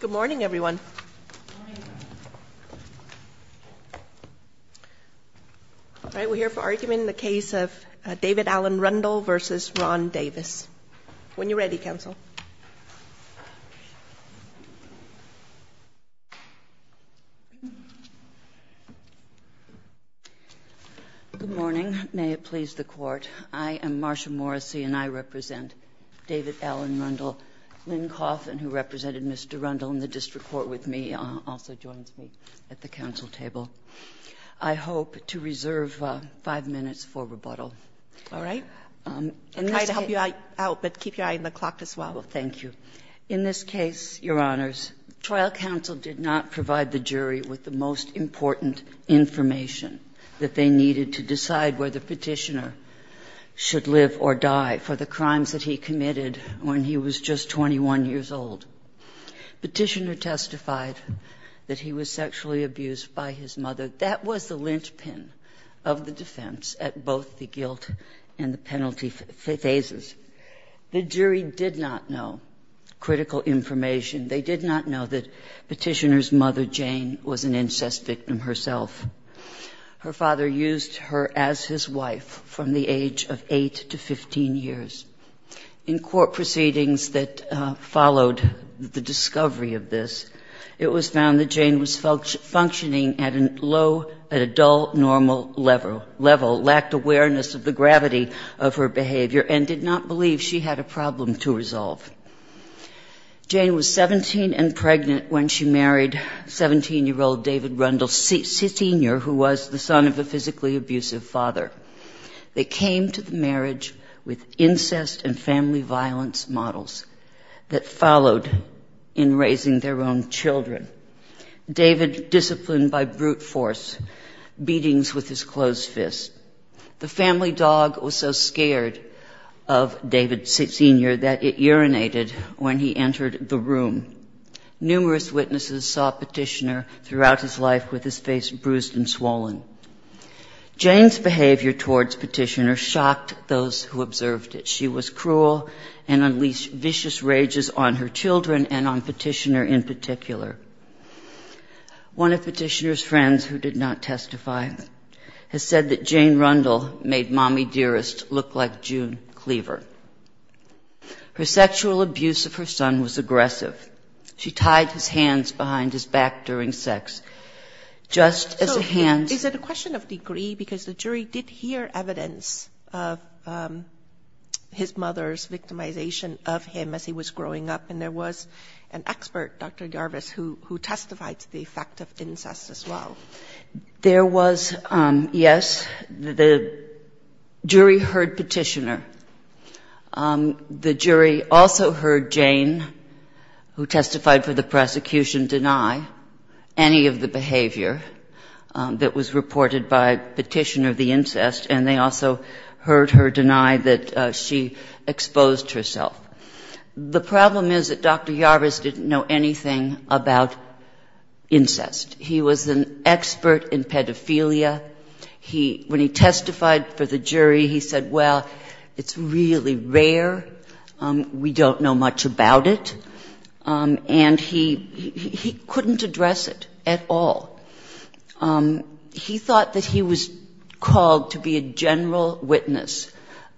Good morning, everyone. We're here for argument in the case of David Allen Rundle v. Ron Davis. When you're ready, counsel. Good morning. May it please the Court. I am Marsha Morrissey, and I represent David Allen Rundle. Lynn Coffin, who represented Mr. Rundle in the district court with me, also joins me at the counsel table. I hope to reserve five minutes for rebuttal. All right. I'll try to help you out, but keep your eye on the clock as well. Thank you. In this case, Your Honors, trial counsel did not provide the jury with the most important information that they needed to decide whether Petitioner should live or die for the crimes that he committed when he was just 21 years old. Petitioner testified that he was sexually abused by his mother. That was the linchpin of the defense at both the guilt and the penalty phases. The jury did not know critical information. They did not know that Petitioner's mother, Jane, was an incest victim herself. Her father used her as his wife from the age of 8 to 15 years. In court proceedings that followed the discovery of this, it was found that Jane was functioning at a low, at a dull, normal level, lacked awareness of the gravity of her behavior, and did not believe she had a problem to resolve. Jane was 17 and pregnant when she married 17-year-old David Rundle Sr., who was the son of a physically abusive father. They came to the marriage with incest and family violence models that followed in raising their own children. David disciplined by brute force, beatings with his closed fist. The family dog was so scared of David Sr. that it urinated when he entered the room. Numerous witnesses saw Petitioner throughout his life with his face bruised and swollen. Jane's behavior towards Petitioner shocked those who observed it. She was cruel and unleashed vicious rages on her children and on Petitioner in particular. One of Petitioner's friends, who did not testify, has said that Jane Rundle made Mommy Dearest look like June Cleaver. Her sexual abuse of her son was aggressive. She tied his hands behind his back during sex, just as hands... The jury heard Petitioner. The jury also heard Jane, who testified for the prosecution, deny any of the behavior that was reported by Petitioner, the incest, and they also heard her deny that she exposed herself. The problem is that Dr. Yarvis didn't know anything about incest. He was an expert in pedophilia. When he testified for the jury, he said, well, it's really rare, we don't know much about it. And he couldn't address it at all. He thought that he was called to be a general witness.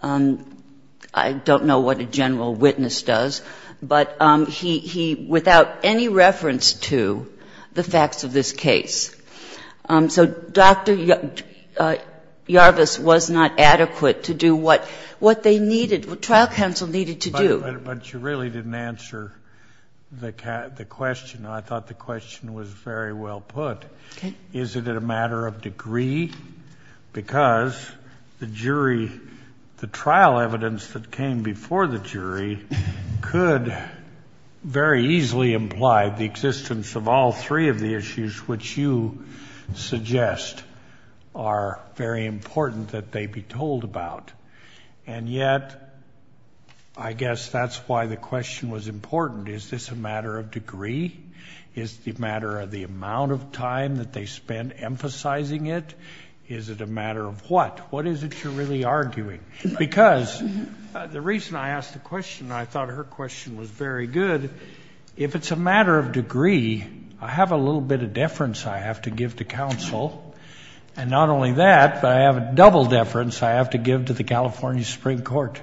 I don't know what a general witness does, but he, without any reference to the facts of this case. So Dr. Yarvis was not adequate to do what they needed, what trial counsel needed to do. But you really didn't answer the question. I thought the question was very well put. Is it a matter of degree? Because the jury, the trial evidence that came before the jury could very easily imply the existence of all three of the issues which you suggest are very important that they be told about. And yet, I guess that's why the question was important. Is this a matter of degree? Is it a matter of the amount of time that they spent emphasizing it? Is it a matter of what? What is it you're really arguing? Because the reason I asked the question, I thought her question was very good. I said, if it's a matter of degree, I have a little bit of deference I have to give to counsel. And not only that, but I have a double deference I have to give to the California Supreme Court.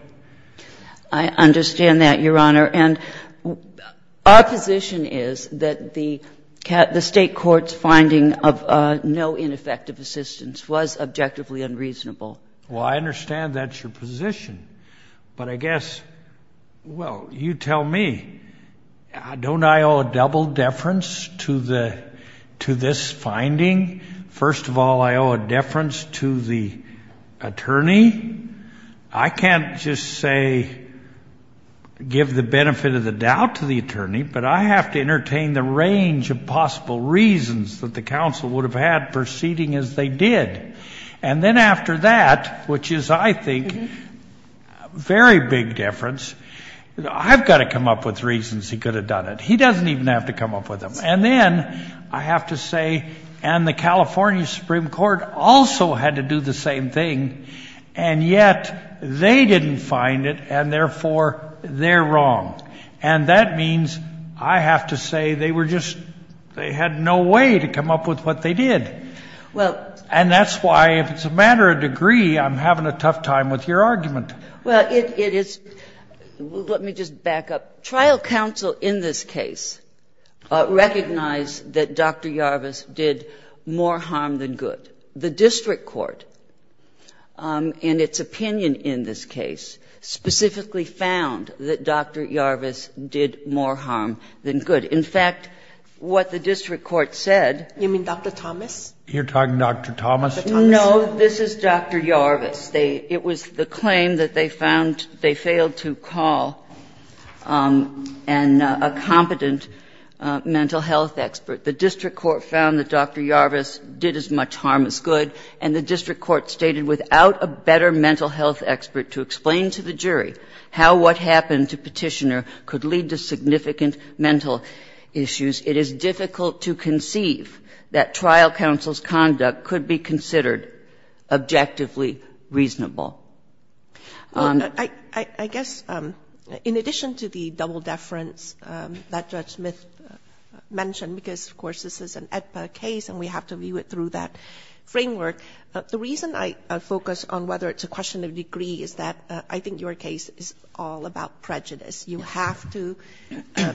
I understand that, Your Honor. And our position is that the State court's finding of no ineffective assistance was objectively unreasonable. Well, I understand that's your position. Don't I owe a double deference to this finding? First of all, I owe a deference to the attorney. I can't just, say, give the benefit of the doubt to the attorney, but I have to entertain the range of possible reasons that the counsel would have had proceeding as they did. And then after that, which is, I think, a very big deference, I've got to come up with reasons he could have done it. He doesn't even have to come up with them. And then I have to say, and the California Supreme Court also had to do the same thing, and yet they didn't find it, and therefore they're wrong. And that means I have to say they were just, they had no way to come up with what they did. And that's why, if it's a matter of degree, I'm having a tough time with your argument. Well, it is, let me just back up. Trial counsel in this case recognized that Dr. Yarvis did more harm than good. The district court, in its opinion in this case, specifically found that Dr. Yarvis did more harm than good. In fact, what the district court said. You mean Dr. Thomas? You're talking Dr. Thomas? No, this is Dr. Yarvis. It was the claim that they found they failed to call a competent mental health expert. The district court found that Dr. Yarvis did as much harm as good, and the district court stated without a better mental health expert to explain to the jury how what happened to Petitioner could lead to significant mental issues. It is difficult to conceive that trial counsel's conduct could be considered objectively reasonable. I guess in addition to the double deference that Judge Smith mentioned, because of course this is an AEDPA case and we have to view it through that framework, the reason I focus on whether it's a question of degree is that I think your case is all about prejudice. You have to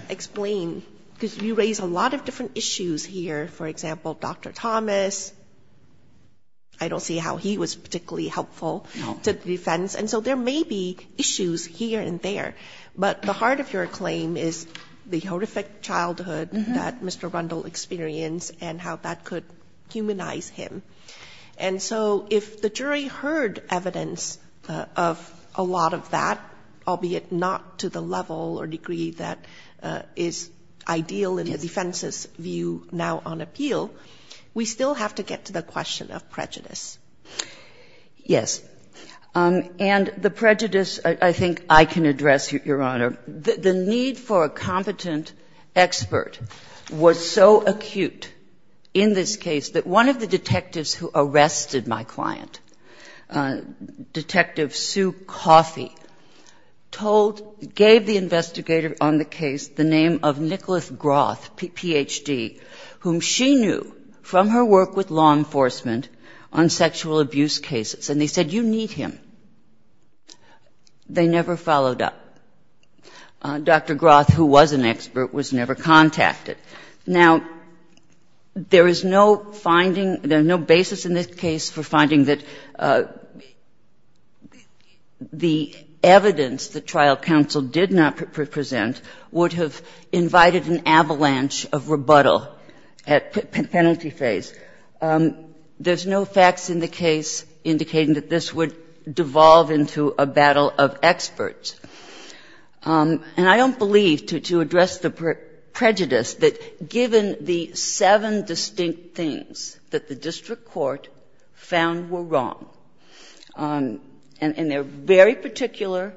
explain, because you raise a lot of different issues here. For example, Dr. Thomas, I don't see how he was particularly helpful to the defense, and so there may be issues here and there. But the heart of your claim is the horrific childhood that Mr. Rundle experienced and how that could humanize him. And so if the jury heard evidence of a lot of that, albeit not to the level or degree that is ideal in the defense's view now on appeal, we still have to get to the question of prejudice. Yes. And the prejudice I think I can address, Your Honor. The need for a competent expert was so acute in this case that one of the detectives who arrested my client, Detective Sue Coffey, told, gave the investigator on the case the name of Nicholas Groth, Ph.D., whom she knew from her work with law enforcement on sexual abuse cases. And they said, You need him. They never followed up. Dr. Groth, who was an expert, was never contacted. Now, there is no finding, there's no basis in this case for finding that the evidence the trial counsel did not present would have invited an avalanche of rebuttal at penalty phase. There's no facts in the case indicating that this would devolve into a battle of experts. And I don't believe, to address the prejudice, that given the seven distinct things that the district court found were wrong, and they're very particular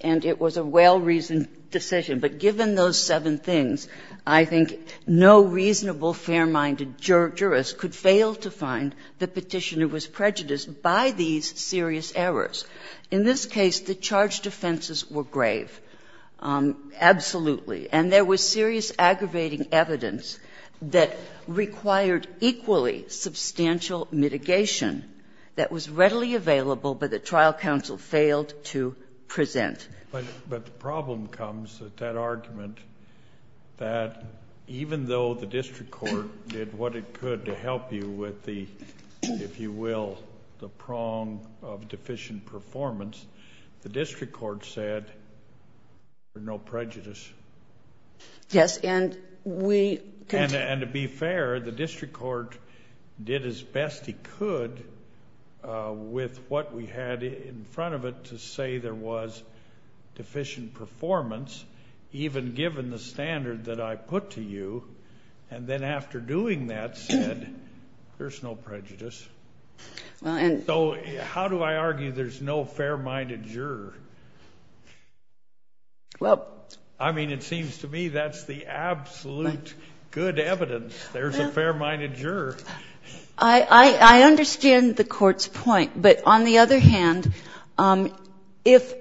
and it was a well-reasoned decision, but given those seven things, I think no reasonable fair-minded jurist could fail to find the Petitioner was prejudiced by these serious errors. In this case, the charged offenses were grave, absolutely. And there was serious aggravating evidence that required equally substantial mitigation that was readily available, but the trial counsel failed to present. But the problem comes with that argument that even though the district court did what it could to help you with the, if you will, the prong of deficient performance, the district court said there's no prejudice. Yes, and we... And to be fair, the district court did its best it could with what we had in front of it to say there was deficient performance, even given the standard that I put to you. And then after doing that, said there's no prejudice. Well, and... So how do I argue there's no fair-minded juror? Well... I mean, it seems to me that's the absolute good evidence there's a fair-minded juror. I understand the Court's point, but on the other hand, if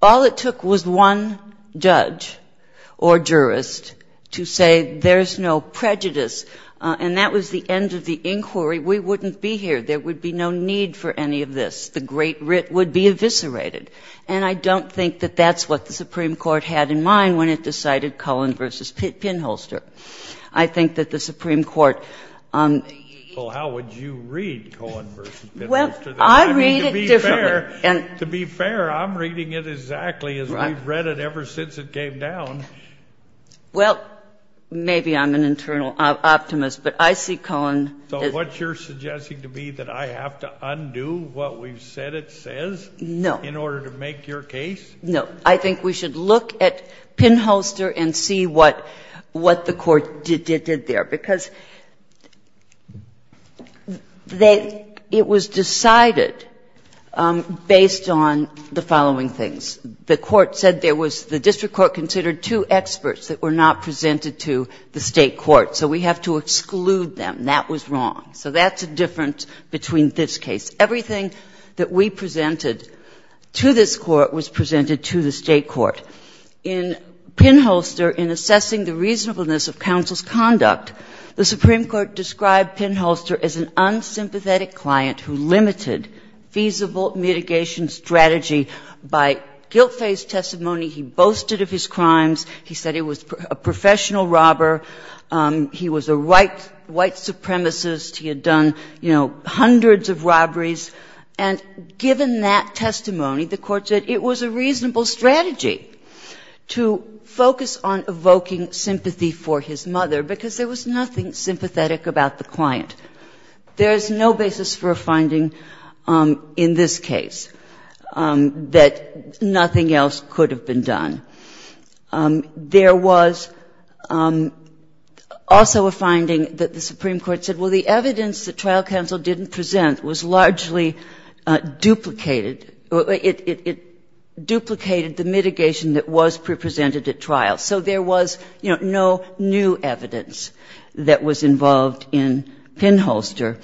all it took was one judge or jurist to say there's no prejudice and that was the end of the inquiry, we wouldn't be here. There would be no need for any of this. The great writ would be eviscerated. And I don't think that that's what the Supreme Court had in mind when it decided Cohen v. Pinholster. I think that the Supreme Court... Well, how would you read Cohen v. Pinholster? Well, I read it differently. I mean, to be fair, to be fair, I'm reading it exactly as we've read it ever since it came down. Well, maybe I'm an internal optimist, but I see Cohen... So what you're suggesting to me, that I have to undo what we've said it says... No.... in order to make your case? No. I think we should look at Pinholster and see what the Court did there, because they — it was decided based on the following things. The Court said there was — the district court considered two experts that were not presented to the State court. So we have to exclude them. That was wrong. So that's a difference between this case. Everything that we presented to this court was presented to the State court. In Pinholster, in assessing the reasonableness of counsel's conduct, the Supreme Court described Pinholster as an unsympathetic client who limited feasible mitigation strategy by guilt-faced testimony. He boasted of his crimes. He said he was a professional robber. He was a white supremacist. He had done, you know, hundreds of robberies. And given that testimony, the Court said it was a reasonable strategy to focus on evoking sympathy for his mother, because there was nothing sympathetic about the client. There is no basis for a finding in this case that nothing else could have been done. There was also a finding that the Supreme Court said, well, the evidence that trial counsel didn't present was largely duplicated. It duplicated the mitigation that was pre-presented at trial. So there was, you know, no new evidence that was involved in Pinholster.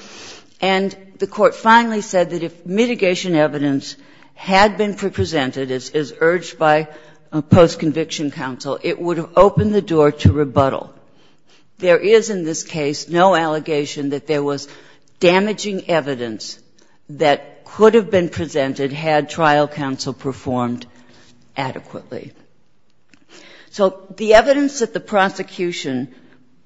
And the Court finally said that if mitigation evidence had been pre-presented as urged by post-conviction counsel, it would have opened the door to rebuttal. There is in this case no allegation that there was damaging evidence that could have been presented had trial counsel performed adequately. So the evidence that the prosecution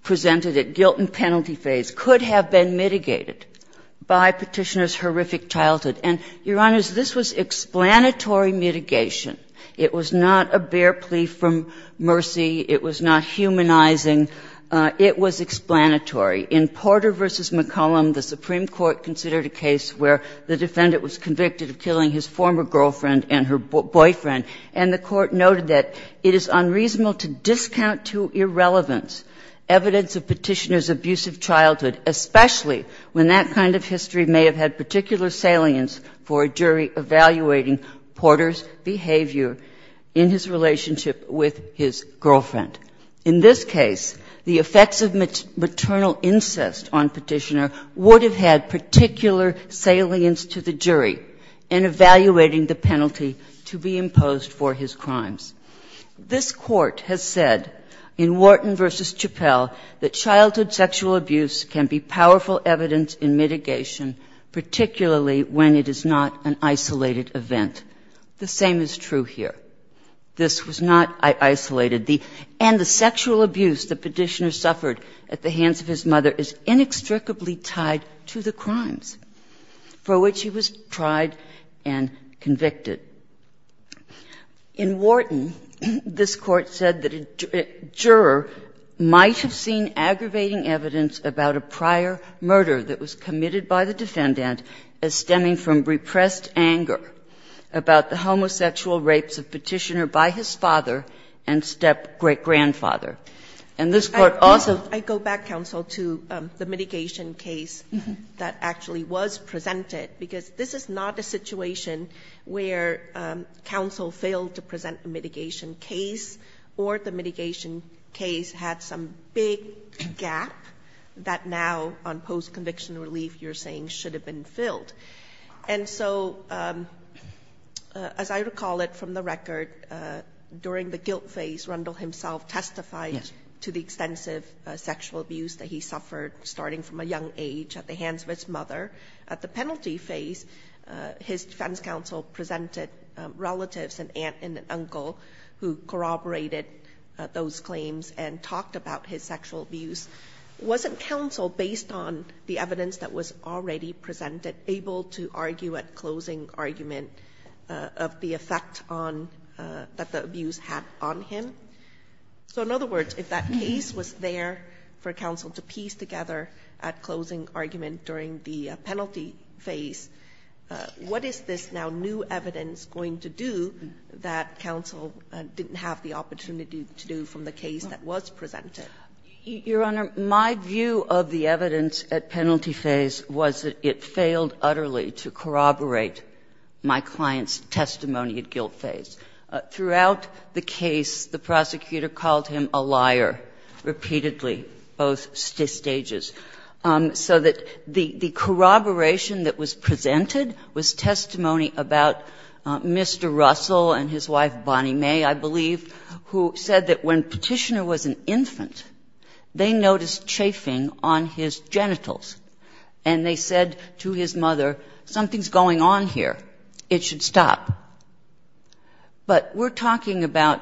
presented at guilt and penalty phase could have been mitigated by Petitioner's horrific childhood. And, Your Honors, this was explanatory mitigation. It was not a bare plea from mercy. It was not humanizing. It was explanatory. In Porter v. McCollum, the Supreme Court considered a case where the defendant was convicted of killing his former girlfriend and her boyfriend, and the Court noted that it is unreasonable to discount to irrelevance evidence of Petitioner's abusive childhood, especially when that kind of history may have had particular salience for a jury evaluating Porter's behavior in his relationship with his girlfriend. In this case, the effects of maternal incest on Petitioner would have had particular salience to the jury in evaluating the penalty to be imposed for his crimes. This Court has said in Wharton v. Chappell that childhood sexual abuse can be powerful evidence in mitigation, particularly when it is not an isolated event. The same is true here. This was not isolated. And the sexual abuse that Petitioner suffered at the hands of his mother is inextricably tied to the crimes for which he was tried and convicted. In Wharton, this Court said that a juror might have seen aggravating evidence about a prior murder that was committed by the defendant as stemming from repressed anger about the homosexual rapes of Petitioner by his father and step-grandfather. And this Court also ---- Sotomayor, I go back, counsel, to the mitigation case that actually was presented, because this is not a situation where counsel failed to present a mitigation case or the mitigation case had some big gap that now, on post-conviction relief, you're saying should have been filled. And so, as I recall it from the record, during the guilt phase, Rundle himself testified to the extensive sexual abuse that he suffered starting from a young age at the hands of his mother. At the penalty phase, his defense counsel presented relatives, an aunt and an uncle, who corroborated those claims and talked about his sexual abuse. Wasn't counsel, based on the evidence that was already presented, able to argue at closing argument of the effect that the abuse had on him? So, in other words, if that case was there for counsel to piece together at closing argument during the penalty phase, what is this now new evidence going to do that counsel didn't have the opportunity to do from the case that was presented? Your Honor, my view of the evidence at penalty phase was that it failed utterly to corroborate my client's testimony at guilt phase. Throughout the case, the prosecutor called him a liar, repeatedly, both stages. So that the corroboration that was presented was testimony about Mr. Russell and his wife, Bonnie May, I believe, who said that when Petitioner was an infant, they noticed chafing on his genitals, and they said to his mother, something's going on here, it should stop. But we're talking about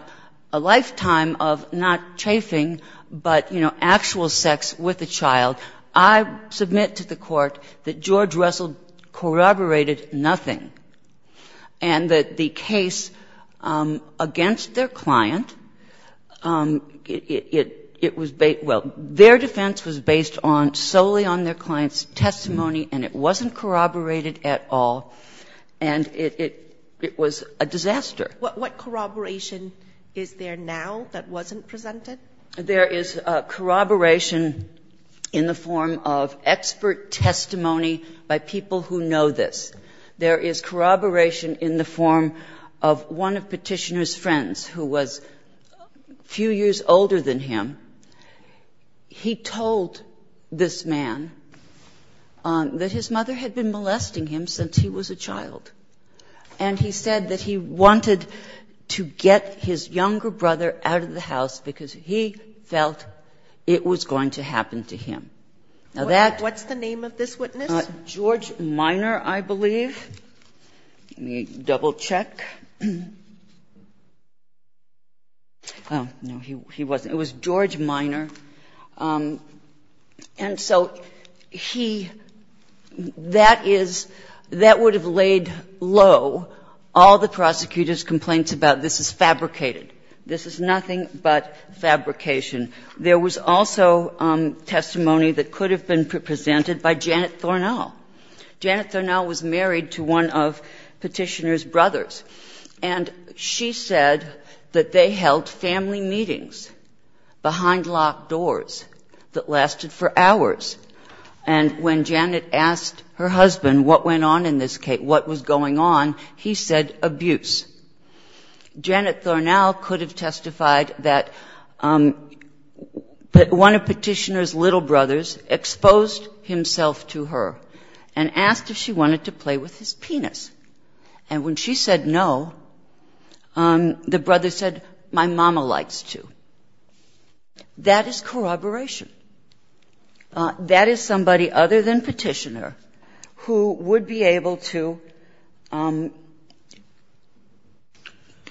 a lifetime of not chafing, but, you know, actual sex with a child. I submit to the Court that George Russell corroborated nothing, and that the case against their client, it was based – well, their defense was based solely on their client's testimony, and it wasn't corroborated at all, and it was a disaster. What corroboration is there now that wasn't presented? There is corroboration in the form of expert testimony by people who know this. There is corroboration in the form of one of Petitioner's friends, who was a few years older than him. He told this man that his mother had been molesting him since he was a child, and he said that he wanted to get his younger brother out of the house because he felt it was going to happen to him. Now, that's the name of this witness? George Minor, I believe. Let me double-check. Oh, no, he wasn't. It was George Minor. And so he – that is – that would have laid low all the prosecutor's complaints about this is fabricated, this is nothing but fabrication. There was also testimony that could have been presented by Janet Thornall. Janet Thornall was married to one of Petitioner's brothers, and she said that they held family meetings behind locked doors that lasted for hours. And when Janet asked her husband what went on in this case, what was going on, he said abuse. Janet Thornall could have testified that one of Petitioner's little brothers exposed himself to her and asked if she wanted to play with his penis. And when she said no, the brother said, my mama likes to. That is corroboration. That is somebody other than Petitioner who would be able to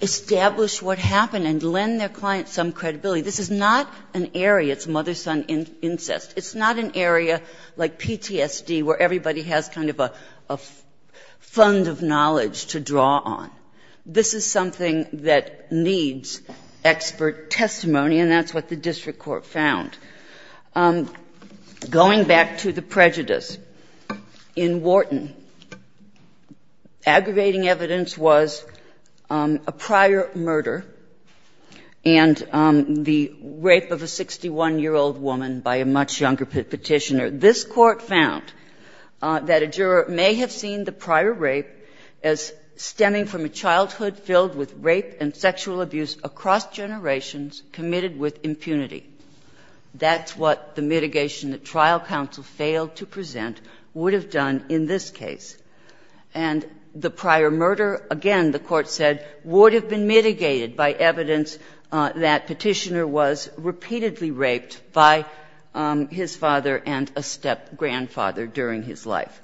establish what happened and lend their client some credibility. This is not an area, it's mother-son incest. It's not an area like PTSD where everybody has kind of a fund of knowledge to draw on. This is something that needs expert testimony, and that's what the district court found. Going back to the prejudice, in Wharton, aggravating evidence was a prior murder and the rape of a 61-year-old woman by a much younger Petitioner. This Court found that a juror may have seen the prior rape as stemming from a childhood filled with rape and sexual abuse across generations, committed with impunity. That's what the mitigation that trial counsel failed to present would have done in this case. And the prior murder, again, the Court said, would have been mitigated by evidence that Petitioner was repeatedly raped by his father and a step-grandfather during his life.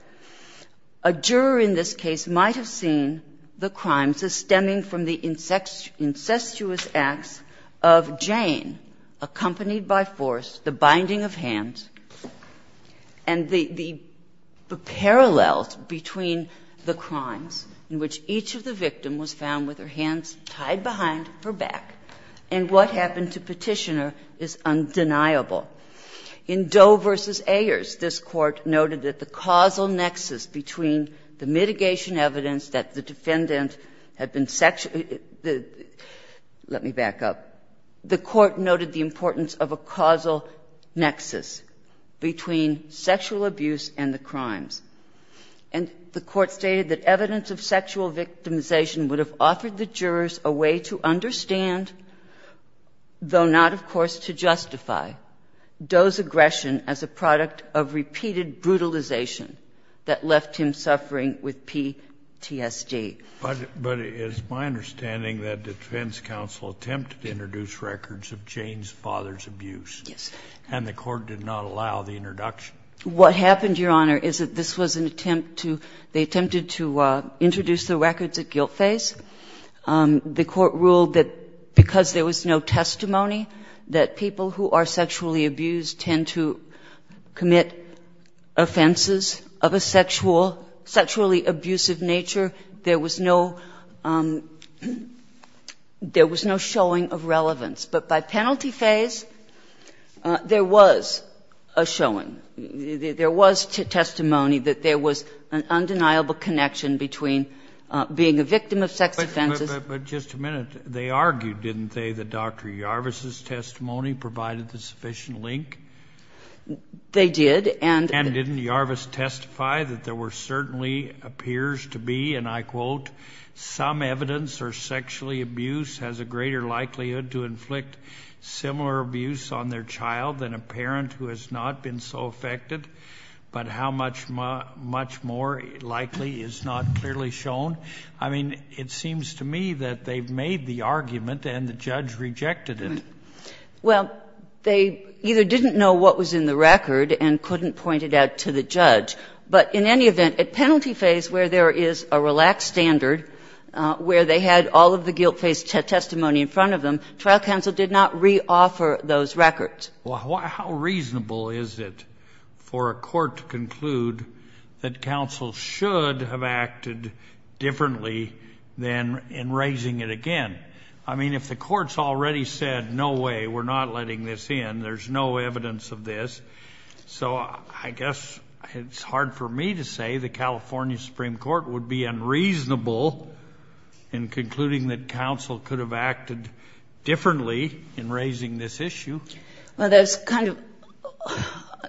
A juror in this case might have seen the crime as stemming from the incestuous acts of Jane, accompanied by force, the binding of hands, and the parallels between the crimes in which each of the victims was found with her hands tied behind her back, and what happened to Petitioner is undeniable. In Doe v. Ayers, this Court noted that the causal nexus between the mitigation evidence that the defendant had been sexually, let me back up, the Court noted the importance of a causal nexus between sexual abuse and the crimes. And the Court stated that evidence of sexual victimization would have offered the jurors a way to understand, though not, of course, to justify, Doe's aggression as a product of repeated brutalization that left him suffering with PTSD. But it's my understanding that the defense counsel attempted to introduce records of Jane's father's abuse. Yes. And the Court did not allow the introduction. What happened, Your Honor, is that this was an attempt to, they attempted to introduce the records at guilt phase. The Court ruled that because there was no testimony, that people who are sexually abused tend to commit offenses of a sexual, sexually abusive nature, there was no, there was no showing of relevance. But by penalty phase, there was a showing. There was testimony that there was an undeniable connection between being a victim of sex offenses. But just a minute. They argued, didn't they, that Dr. Yarvis' testimony provided the sufficient link? They did. And didn't Yarvis testify that there were certainly, appears to be, and I quote, some evidence or sexually abuse has a greater likelihood to inflict similar abuse on their child than a parent who has not been so affected, but how much more likely is not clearly shown? I mean, it seems to me that they've made the argument and the judge rejected it. Well, they either didn't know what was in the record and couldn't point it out to the judge, but in any event, at penalty phase where there is a relaxed standard, where they had all of the guilt phase testimony in front of them, trial counsel did not reoffer those records. Well, how reasonable is it for a court to conclude that counsel should have acted differently than in raising it again? I mean, if the court's already said, no way, we're not letting this in, there's no evidence of this. So I guess it's hard for me to say the California Supreme Court would be unreasonable in concluding that counsel could have acted differently in raising this issue. Well, there's kind of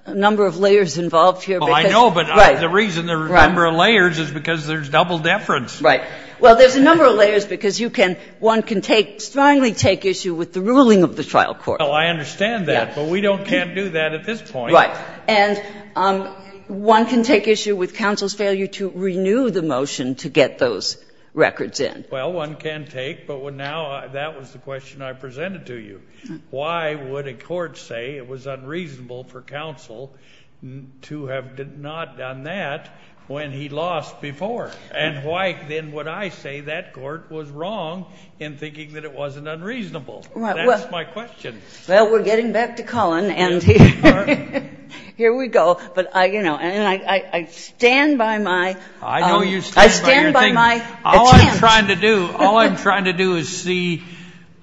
a number of layers involved here. Well, I know, but the reason there are a number of layers is because there's double deference. Right. Well, there's a number of layers because you can one can take, strongly take issue with the ruling of the trial court. Well, I understand that, but we can't do that at this point. Right. And one can take issue with counsel's failure to renew the motion to get those records in. Well, one can take, but now that was the question I presented to you. Why would a court say it was unreasonable for counsel to have not done that when he lost before? And why then would I say that court was wrong in thinking that it wasn't unreasonable? That's my question. Well, we're getting back to Cullen, and here we go. But I, you know, and I stand by my... I know you stand by your thing. I stand by my attempt. What I'm trying to do, all I'm trying to do is see,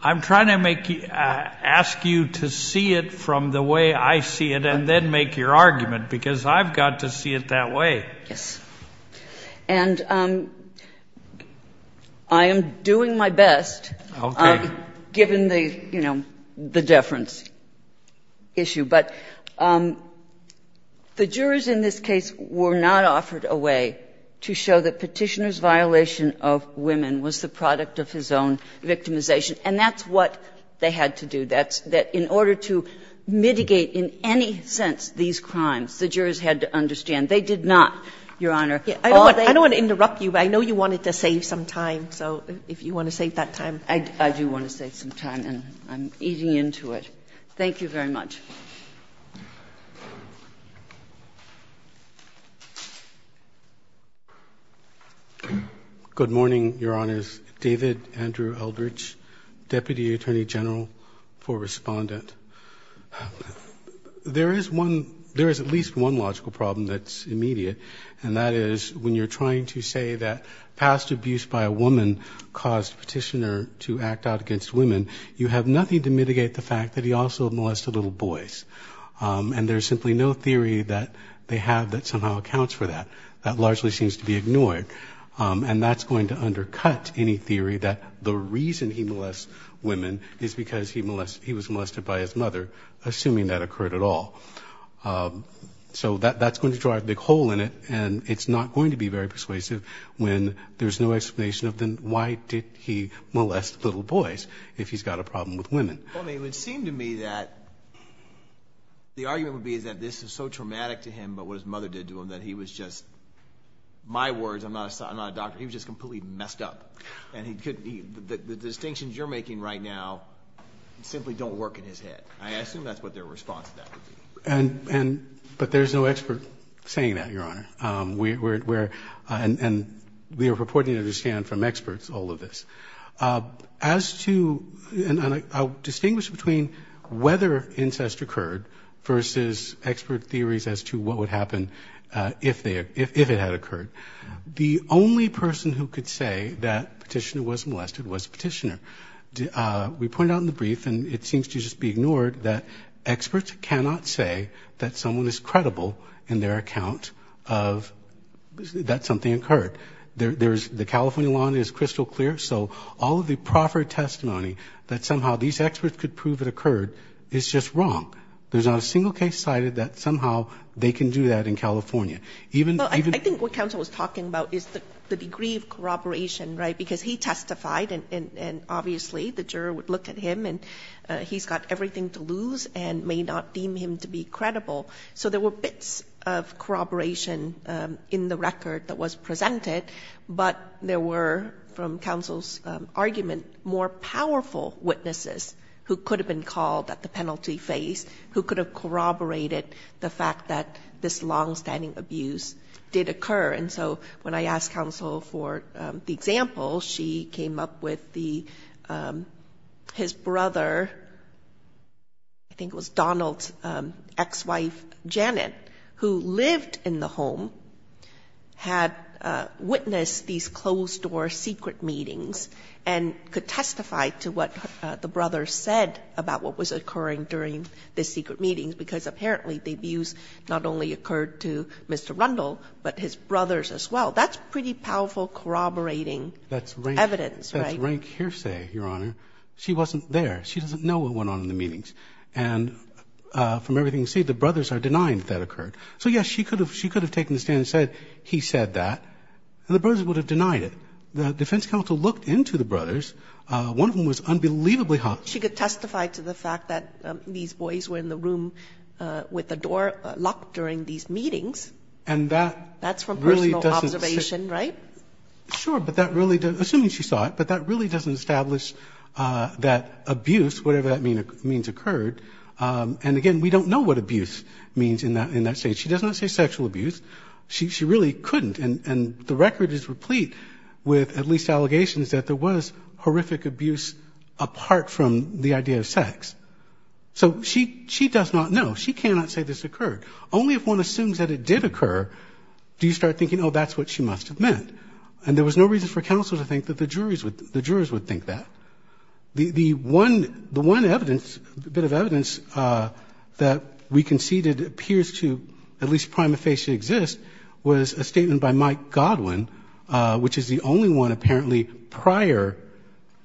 I'm trying to make you, ask you to see it from the way I see it and then make your argument, because I've got to see it that way. Yes. And I am doing my best. Okay. Given the, you know, the deference issue. But the jurors in this case were not offered a way to show that Petitioner's use of women was the product of his own victimization. And that's what they had to do. That in order to mitigate in any sense these crimes, the jurors had to understand they did not, Your Honor. I don't want to interrupt you, but I know you wanted to save some time. So if you want to save that time. I do want to save some time, and I'm eating into it. Thank you very much. Good morning, Your Honors. David Andrew Eldridge, Deputy Attorney General for Respondent. There is one, there is at least one logical problem that's immediate, and that is when you're trying to say that past abuse by a woman caused Petitioner to act out against women, you have nothing to mitigate the fact that he also molested a little boy. And there's simply no theory that they have that somehow accounts for that. That largely seems to be ignored. And that's going to undercut any theory that the reason he molested women is because he was molested by his mother, assuming that occurred at all. So that's going to drive a big hole in it, and it's not going to be very persuasive when there's no explanation of why did he molest little boys if he's got a problem with women. Well, it would seem to me that the argument would be that this is so traumatic to him, but what his mother did to him, that he was just, my words, I'm not a doctor, he was just completely messed up. And the distinctions you're making right now simply don't work in his head. I assume that's what their response to that would be. But there's no expert saying that, Your Honor. And we are purporting to understand from experts all of this. As to, and I'll distinguish between whether incest occurred versus expert theories as to what would happen if it had occurred. The only person who could say that Petitioner was molested was Petitioner. We pointed out in the brief, and it seems to just be ignored, that experts cannot say that someone is credible in their account of that something occurred. The California law is crystal clear, so all of the proper testimony that somehow these experts could prove it occurred is just wrong. There's not a single case cited that somehow they can do that in California. I think what counsel was talking about is the degree of corroboration, right? Because he testified and obviously the juror would look at him and he's got everything to lose and may not deem him to be credible. So there were bits of corroboration in the record that was presented. But there were, from counsel's argument, more powerful witnesses who could have been called at the penalty phase, who could have corroborated the fact that this longstanding abuse did occur. And so when I asked counsel for the example, she came up with his brother, I think it was Donald's ex-wife Janet, who lived in the home, had witnessed these closed-door secret meetings and could testify to what the brother said about what was occurring during the secret meetings, because apparently the abuse not only occurred to Mr. Rundle, but his brothers as well. That's pretty powerful corroborating evidence, right? That's rank hearsay, Your Honor. She wasn't there. She doesn't know what went on in the meetings. And from everything you see, the brothers are denying that that occurred. So, yes, she could have taken a stand and said, he said that, and the brothers would have denied it. The defense counsel looked into the brothers. One of them was unbelievably hot. She could testify to the fact that these boys were in the room with the door locked during these meetings. And that really doesn't say... That's from personal observation, right? Sure, but that really doesn't, assuming she saw it, but that really doesn't establish that abuse, whatever that means, occurred. And, again, we don't know what abuse means in that state. She does not say sexual abuse. She really couldn't. And the record is replete with at least allegations that there was horrific abuse apart from the idea of sex. So she does not know. She cannot say this occurred. Only if one assumes that it did occur do you start thinking, oh, that's what she must have meant. And there was no reason for counsel to think that the jurors would think that. The one evidence, bit of evidence, that we conceded appears to at least prima facie exist was a statement by Mike Godwin, which is the only one apparently prior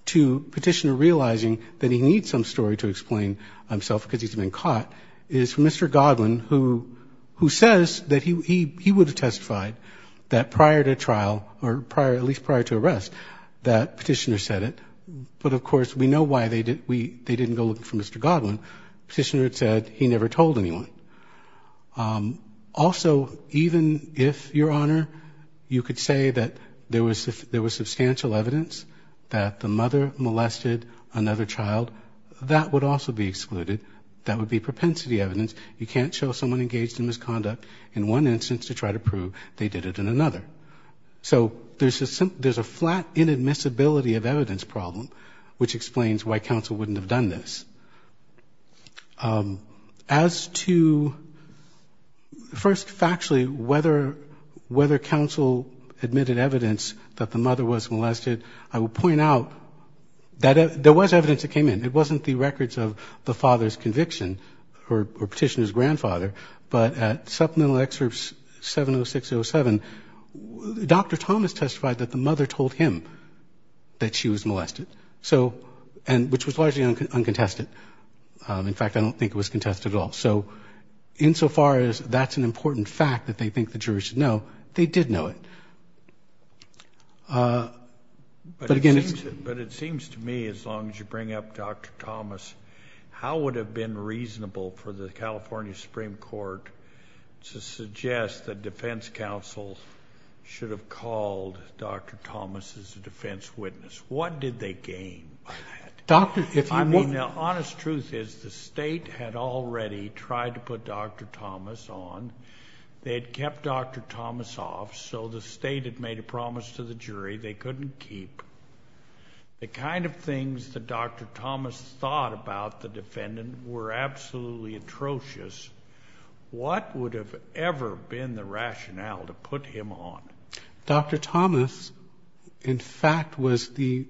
to Petitioner realizing that he needs some story to explain himself because he's been caught, is from Mr. Godwin, who says that he would have at least prior to arrest that Petitioner said it. But, of course, we know why they didn't go looking for Mr. Godwin. Petitioner said he never told anyone. Also, even if, Your Honor, you could say that there was substantial evidence that the mother molested another child, that would also be excluded. That would be propensity evidence. You can't show someone engaged in misconduct in one instance to try to prove they did it in another. So there's a flat inadmissibility of evidence problem which explains why counsel wouldn't have done this. As to, first factually, whether counsel admitted evidence that the mother was molested, I will point out that there was evidence that came in. It wasn't the records of the father's conviction or Petitioner's grandfather, but at Supplemental Excerpt 70607, Dr. Thomas testified that the mother told him that she was molested, which was largely uncontested. In fact, I don't think it was contested at all. So insofar as that's an important fact that they think the jury should know, they did know it. But it seems to me, as long as you bring up Dr. Thomas, how would it have been reasonable for the California Supreme Court to suggest that defense counsel should have called Dr. Thomas as a defense witness? What did they gain by that? I mean, the honest truth is the state had already tried to put Dr. Thomas on. They had kept Dr. Thomas off, so the state had made a promise to the jury they couldn't keep. The kind of things that Dr. Thomas thought about the defendant were absolutely atrocious. What would have ever been the rationale to put him on? Dr. Thomas, in fact, was the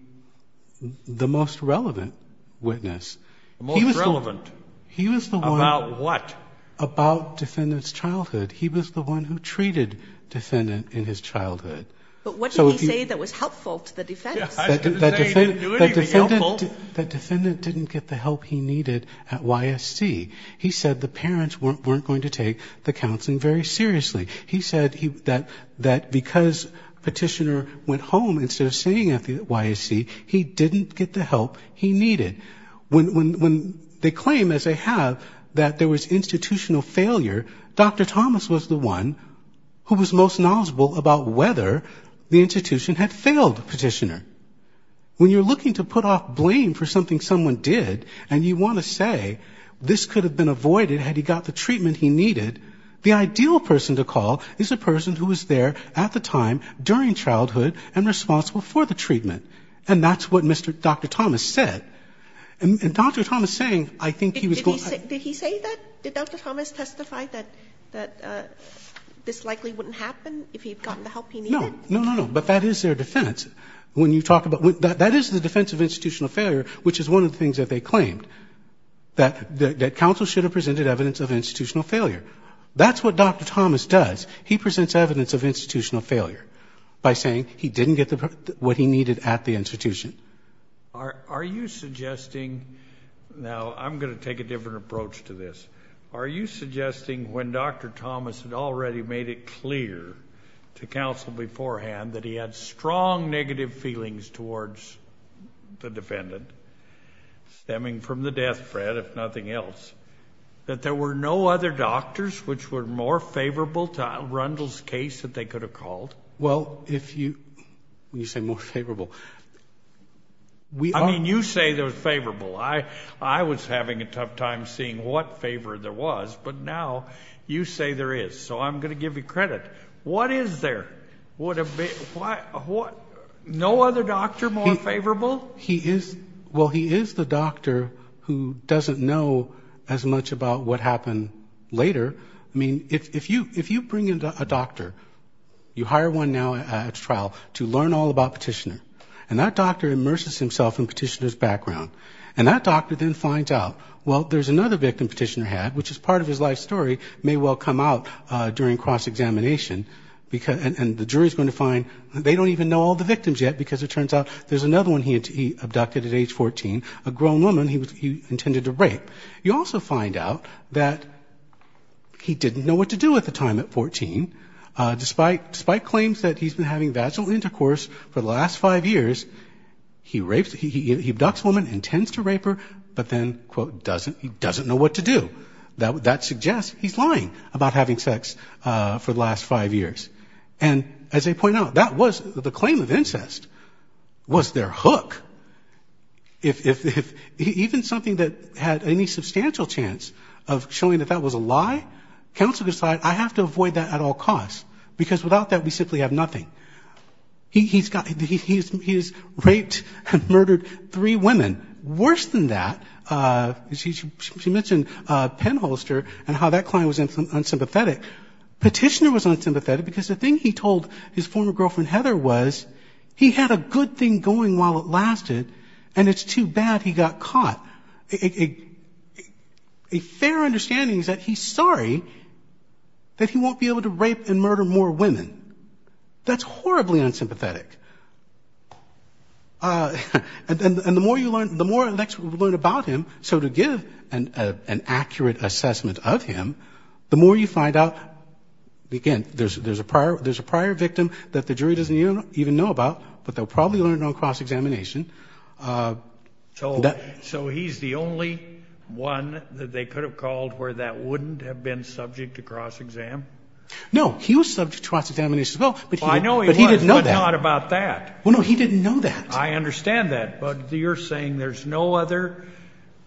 most relevant witness. Most relevant about what? About defendant's childhood. He was the one who treated defendant in his childhood. But what did he say that was helpful to the defense? The defendant didn't get the help he needed at YSC. He said the parents weren't going to take the counseling very seriously. He said that because petitioner went home instead of staying at the YSC, he didn't get the help he needed. When they claim, as they have, that there was institutional failure, Dr. Thomas was the one who was most knowledgeable about whether the institution had failed the petitioner. When you're looking to put off blame for something someone did and you want to say this could have been avoided had he got the treatment he needed, the ideal person to call is a person who was there at the time, during childhood, and responsible for the treatment. And that's what Dr. Thomas said. And Dr. Thomas saying, I think he was going to... Did Dr. Thomas testify that this likely wouldn't happen if he'd gotten the help he needed? No. No, no, no. But that is their defense. That is the defense of institutional failure, which is one of the things that they claimed, that counsel should have presented evidence of institutional failure. That's what Dr. Thomas does. He presents evidence of institutional failure by saying he didn't get what he needed at the institution. Are you suggesting... Now, I'm going to take a different approach to this. Are you suggesting when Dr. Thomas had already made it clear to counsel beforehand that he had strong negative feelings towards the defendant, stemming from the death, Fred, if nothing else, that there were no other doctors which were more favorable to Rundle's case that they could have called? Well, if you... When you say more favorable... I mean, you say there was favorable. I was having a tough time seeing what favor there was. But now you say there is. So I'm going to give you credit. What is there? No other doctor more favorable? Well, he is the doctor who doesn't know as much about what happened later. I mean, if you bring in a doctor, you hire one now at a trial, to learn all about Petitioner, and that doctor immerses himself in Petitioner's background, and that doctor then finds out, well, there's another victim Petitioner had, which as part of his life story may well come out during cross-examination, and the jury is going to find they don't even know all the victims yet, because it turns out there's another one he abducted at age 14, a grown woman he intended to rape. You also find out that he didn't know what to do at the time at 14, despite claims that he's been having vaginal intercourse for the last five years. He rapes...he abducts a woman, intends to rape her, but then, quote, doesn't know what to do. That suggests he's lying about having sex for the last five years. And as I point out, that was... The claim of incest was their hook. If...even something that had any substantial chance of showing that that was a lie, counsel decided, I have to avoid that at all costs, because without that we simply have nothing. He's got...he's raped and murdered three women. Worse than that, she mentioned Penholster and how that client was unsympathetic. Petitioner was unsympathetic because the thing he told his former girlfriend, Heather, was he had a good thing going while it lasted, and it's too bad he got caught. A...a fair understanding is that he's sorry that he won't be able to rape and murder more women. That's horribly unsympathetic. And the more you learn...the more you learn about him, so to give an accurate assessment of him, the more you find out... There's a prior victim that the jury doesn't even know about, but they'll probably learn on cross-examination. So...so he's the only one that they could have called where that wouldn't have been subject to cross-exam? No, he was subject to cross-examination as well, but he... Well, I know he was, but not about that. Well, no, he didn't know that. I understand that, but you're saying there's no other...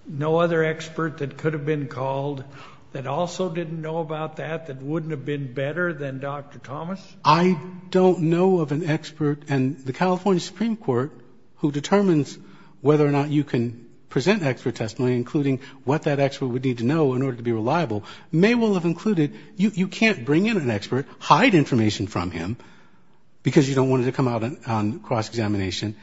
no other expert that could have been called that also didn't know about that, that wouldn't have been better than Dr. Thomas? I don't know of an expert... And the California Supreme Court, who determines whether or not you can present expert testimony, including what that expert would need to know in order to be reliable, may well have included, you can't bring in an expert, hide information from him, because you don't want it to come out on cross-examination,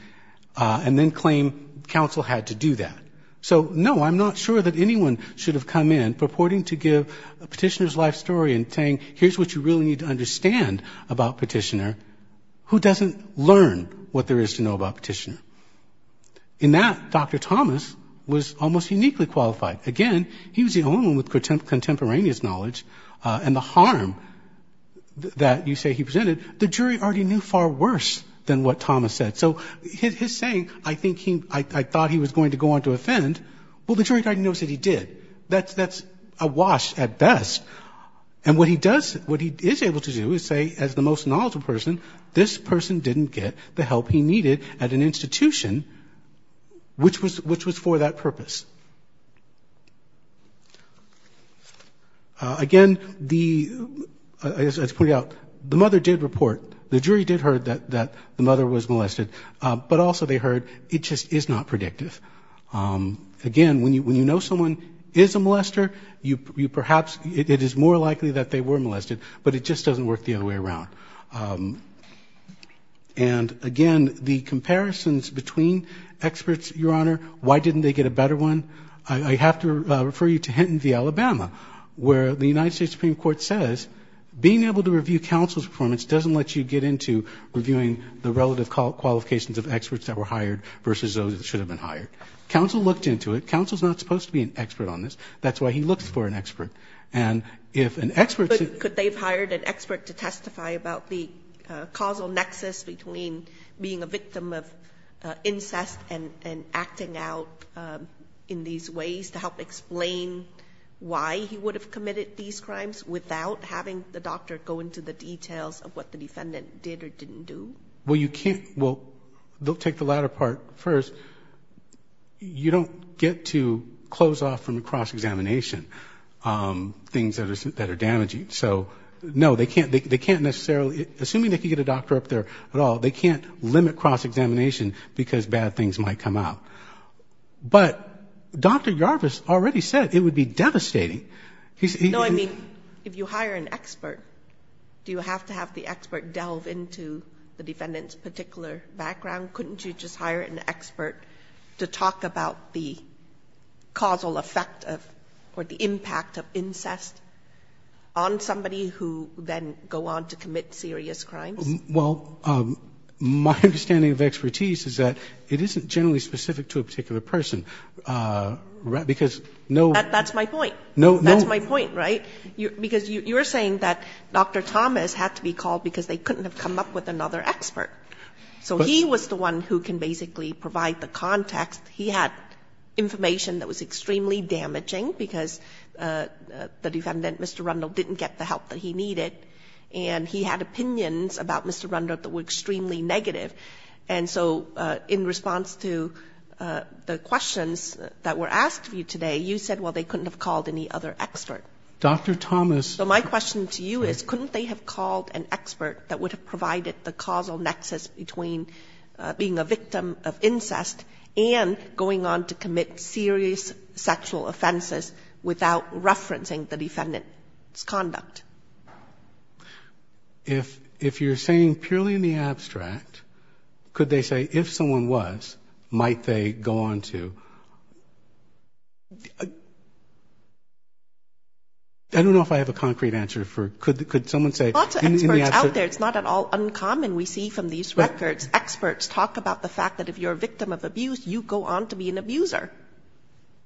and then claim counsel had to do that. So, no, I'm not sure that anyone should have come in reporting to give a petitioner's life story and saying, here's what you really need to understand about a petitioner who doesn't learn what there is to know about a petitioner. In that, Dr. Thomas was almost uniquely qualified. Again, he was the only one with contemporaneous knowledge, and the harm that you say he presented, the jury already knew far worse than what Thomas said. So his saying, I think he... I thought he was going to go on to offend, well, the jury already knows that he did. That's awash at best. And what he does, what he is able to do is say, as the most knowledgeable person, this person didn't get the help he needed at an institution, which was for that purpose. Again, the... As pointed out, the mother did report, the jury did hear that the mother was molested, but also they heard it just is not predictive. Again, when you know someone is a molester, you perhaps... It is more likely that they were molested, but it just doesn't work the other way around. And, again, the comparisons between experts, Your Honor, why didn't they get a better one? I have to refer you to Hinton v. Alabama, where the United States Supreme Court says being able to review all of the qualifications of experts that were hired versus those that should have been hired. Counsel looked into it. Counsel is not supposed to be an expert on this. That's why he looks for an expert. And if an expert... But could they have hired an expert to testify about the causal nexus between being a victim of incest and acting out in these ways to help explain why he would have committed these crimes without having the doctor go into the details of what the defendant did or didn't do? Well, you can't... Well, they'll take the latter part first. You don't get to close off from a cross-examination things that are damaging. So, no, they can't necessarily... Assuming they could get a doctor up there at all, they can't limit cross-examination because bad things might come out. But Dr. Yarvis already said it would be devastating. No, I mean, if you hire an expert, do you have to have the expert delve into the defendant's particular background? Couldn't you just hire an expert to talk about the causal effect of or the impact of incest on somebody who then go on to commit serious crimes? Well, my understanding of expertise is that it isn't generally specific to a particular person. Because no... That's my point. That's my point, right? Because you're saying that Dr. Thomas had to be called because they couldn't have come up with another expert. So he was the one who can basically provide the context. He had information that was extremely damaging because the defendant, Mr. Rundle, didn't get the help that he needed. And he had opinions about Mr. Rundle that were extremely negative. And so in response to the questions that were asked of you today, you said, well, they couldn't have called any other expert. Dr. Thomas... So my question to you is, couldn't they have called an expert that would have provided the causal nexus between being a victim of incest and going on to commit serious sexual offenses If you're saying purely in the abstract, could they say, if someone was, might they go on to... I don't know if I have a concrete answer for... Could someone say... Lots of experts out there. It's not at all uncommon we see from these records. Experts talk about the fact that if you're a victim of abuse, you go on to be an abuser.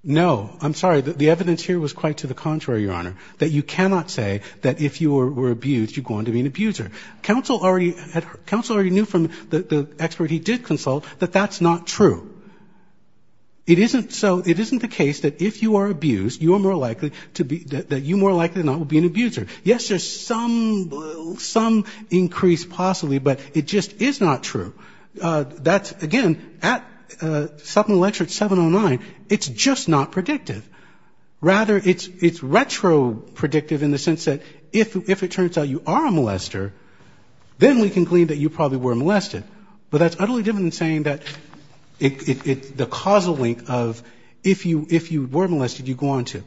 No. I'm sorry. The evidence here was quite to the contrary, Your Honor. That you cannot say that if you were abused, you go on to be an abuser. Counsel already knew from the expert he did consult that that's not true. So it isn't the case that if you are abused, you are more likely to be... That you more likely than not will be an abuser. Yes, there's some increase possibly, but it just is not true. That's, again, at 709, it's just not predictive. Rather, it's retro-predictive in the sense that if it turns out you are a molester, then we can claim that you probably were molested. But that's utterly different than saying that the causal link of if you were molested, you go on to.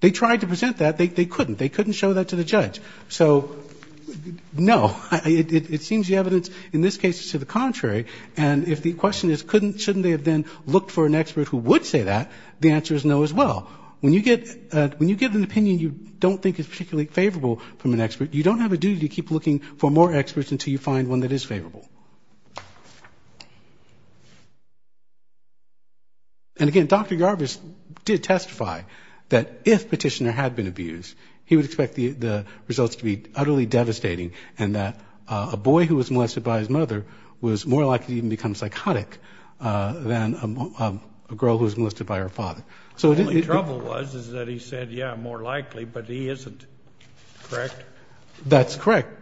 They tried to present that. They couldn't. They couldn't show that to the judge. So, no. It seems the evidence in this case is to the contrary. And if the question is shouldn't they have then looked for an expert who would say that, the answer is no as well. When you give an opinion you don't think is particularly favorable from an expert, you don't have a duty to keep looking for more experts until you find one that is favorable. And, again, Dr. Yarbus did testify that if Petitioner had been abused, he would expect the results to be utterly devastating and that a boy who was molested by his mother was more likely to even become psychotic than a girl who was molested by her father. The only trouble was that he said, yeah, more likely, but he isn't. Correct? That's correct.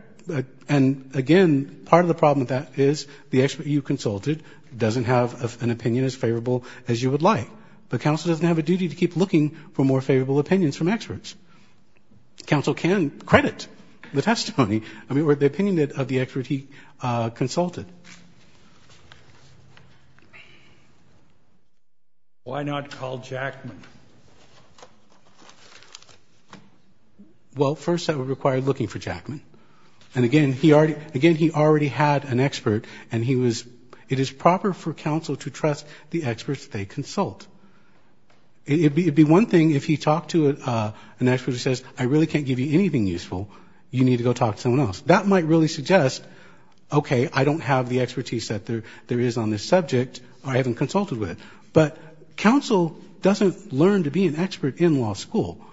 And, again, part of the problem with that is the expert you consulted doesn't have an opinion as favorable as you would like. But counsel doesn't have a duty to keep looking for more favorable opinions from experts. Counsel can credit the testimony or the opinion of the expert he consulted. Why not call Jackman? Well, first that would require looking for Jackman. And, again, he already had an expert and he was, it is proper for counsel to trust the experts that they consult. It would be one thing if he talked to an expert who says, I really can't give you anything useful, you need to go talk to someone else. That might really suggest, okay, I don't have the expertise that there is on this subject or I haven't consulted with it. But counsel doesn't learn to be an expert in law school.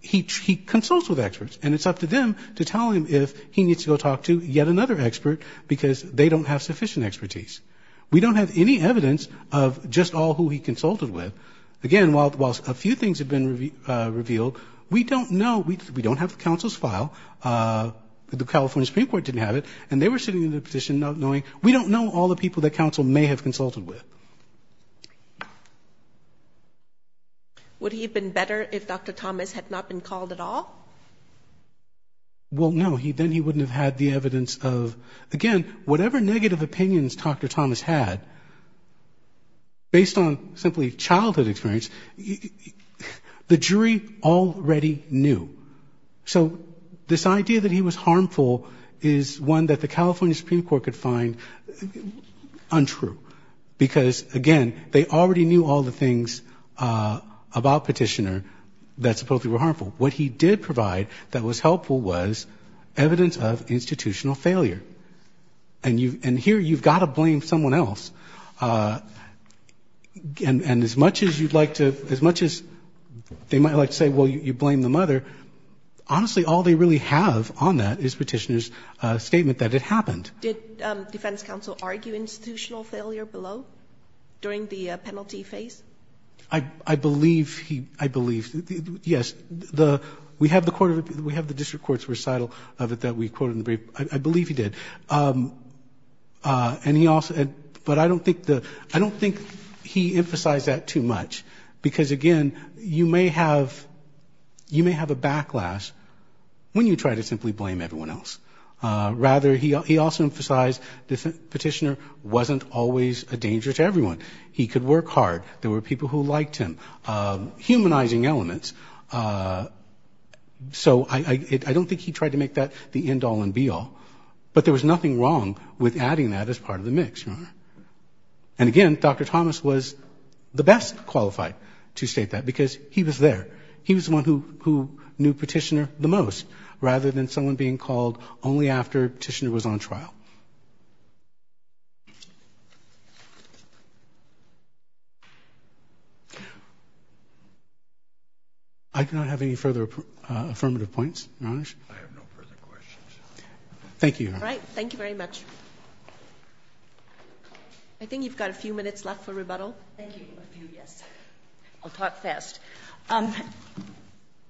He consults with experts and it's up to them to tell him if he needs to go talk to yet another expert because they don't have sufficient expertise. We don't have any evidence of just all who he consulted with. Again, while a few things have been revealed, we don't know, we don't have counsel's file, the California Supreme Court didn't have it and they were sitting in the position of knowing, we don't know all the people that counsel may have consulted with. Would he have been better if Dr. Thomas had not been called at all? Well, no, then he wouldn't have had the evidence of, again, whatever negative opinions Dr. Thomas had, based on simply childhood experience, the jury already knew. So this idea that he was harmful is one that the California Supreme Court could find untrue. Because, again, they already knew all the things about Petitioner that supposedly were harmful. What he did provide that was helpful was evidence of institutional failure. And here you've got to blame someone else. And as much as you'd like to, as much as they might like to say, well, you blame the mother, honestly, all they really have on that is Petitioner's statement that it happened. Did defense counsel argue institutional failure below, during the penalty phase? I believe he, I believe, yes. We have the District Court's recital of it that we quoted in the brief. I believe he did. And he also, but I don't think the, I don't think he emphasized that too much. Because, again, you may have, you may have a backlash when you try to simply blame everyone else. Rather, he also emphasized that Petitioner wasn't always a danger to everyone. He could work hard. There were people who liked him. Humanizing elements. So I don't think he tried to make that the end all and be all. But there was nothing wrong with adding that as part of the mix, Your Honor. And again, Dr. Thomas was the best qualified to state that because he was there. He was the one who knew Petitioner the most, rather than someone being called only after Petitioner was on trial. I have no further questions. Thank you, Your Honor. All right, thank you very much. I think you've got a few minutes left for rebuttal. Thank you. I'll talk fast.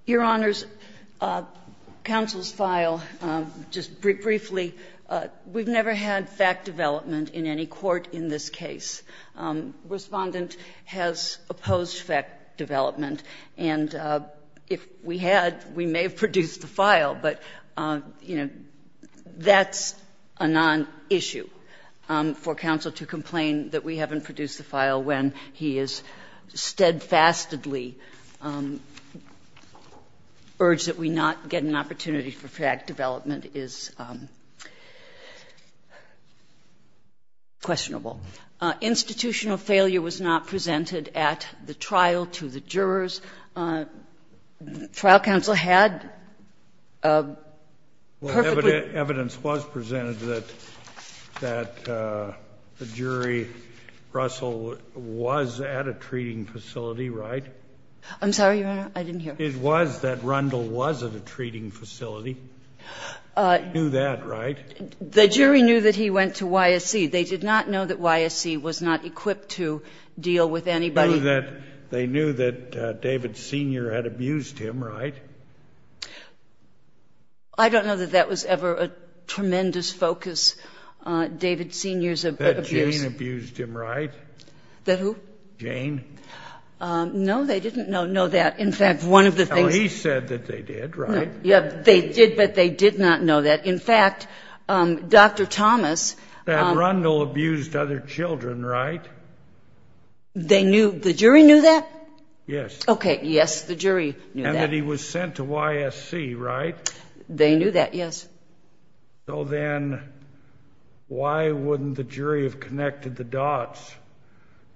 Your Honor's counsel's file, just briefly, we've never had fact development in any court in this case. Respondent has opposed fact development. And if we had, we may have produced the file. But, you know, that's a nonissue for counsel to complain that we haven't produced the file when he has steadfastly urged that we not get an opportunity for fact development is questionable. Institutional failure was not presented at the trial to the jurors. Trial counsel had perfectly. Well, evidence was presented that the jury, Russell, was at a treating facility, right? I'm sorry, Your Honor, I didn't hear. It was that Rundle was at a treating facility. He knew that, right? The jury knew that he went to YSC. They did not know that YSC was not equipped to deal with anybody. They knew that David Sr. had abused him, right? I don't know that that was ever a tremendous focus, David Sr.'s abuse. That Jane abused him, right? That who? Jane. No, they didn't know that. In fact, one of the things. Well, he said that they did, right? Yeah, they did, but they did not know that. In fact, Dr. Thomas. That Rundle abused other children, right? The jury knew that? Yes. Okay, yes, the jury knew that. And that he was sent to YSC, right? They knew that, yes. So then why wouldn't the jury have connected the dots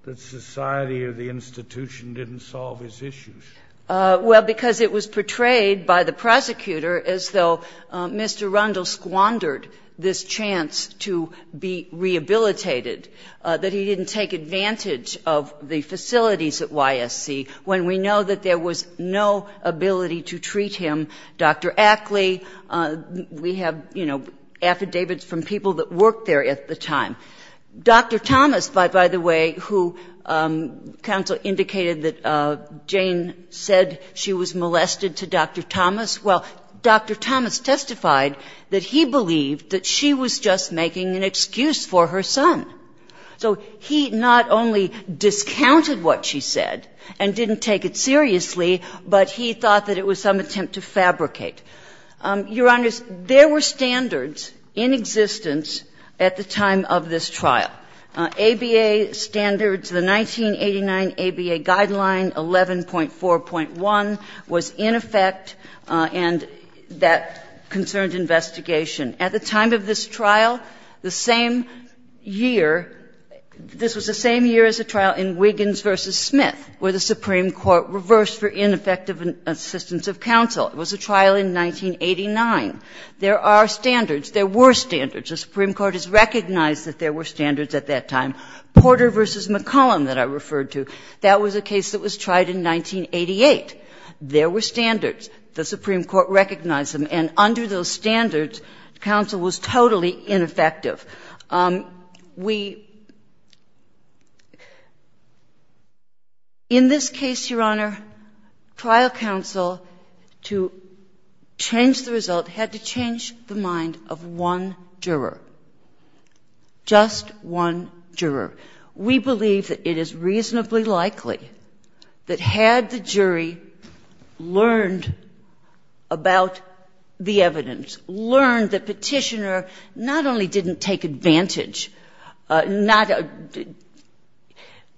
that society or the institution didn't solve his issues? Well, because it was portrayed by the prosecutor as though Mr. Rundle squandered this chance to be rehabilitated, that he didn't take advantage of the facilities at YSC when we know that there was no ability to treat him. Dr. Ackley, we have, you know, affidavits from people that worked there at the time. Dr. Thomas, by the way, who counsel indicated that Jane said she was molested to Dr. Thomas, well, Dr. Thomas testified that he believed that she was just making an excuse for her son. So he not only discounted what she said and didn't take it seriously, but he thought that it was some attempt to fabricate. Your Honors, there were standards in existence at the time of this trial. ABA standards, the 1989 ABA Guideline 11.4.1 was in effect, and that concerned investigation. At the time of this trial, the same year, this was the same year as the trial in Wiggins v. Smith, where the Supreme Court reversed for ineffective assistance of counsel. It was a trial in 1989. There are standards. There were standards. The Supreme Court has recognized that there were standards at that time. Porter v. McCollum that I referred to, that was a case that was tried in 1988. There were standards. The Supreme Court recognized them. And under those standards, counsel was totally ineffective. In this case, Your Honor, trial counsel, to change the result, had to change the mind of one juror, just one juror. We believe that it is reasonably likely that had the jury learned about the evidence, learned that Petitioner not only didn't take advantage,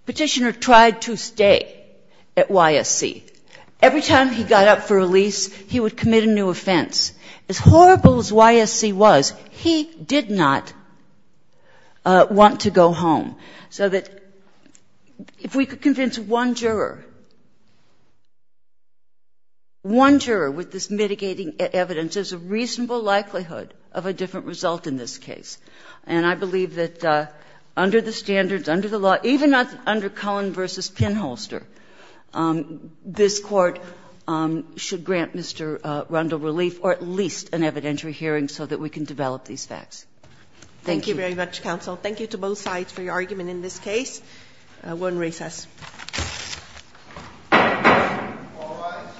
Petitioner tried to stay at YSC. Every time he got up for release, he would commit a new offense. As horrible as YSC was, he did not want to go home. So that if we could convince one juror, one juror with this mitigating evidence, there's a reasonable likelihood of a different result in this case. And I believe that under the standards, under the law, even under Collin v. Pinholster, this Court should grant Mr. Rundle relief, or at least an evidentiary hearing, so that we can develop these facts. Thank you. Thank you very much, counsel. Thank you to both sides for your argument in this case. We're in recess. All rise.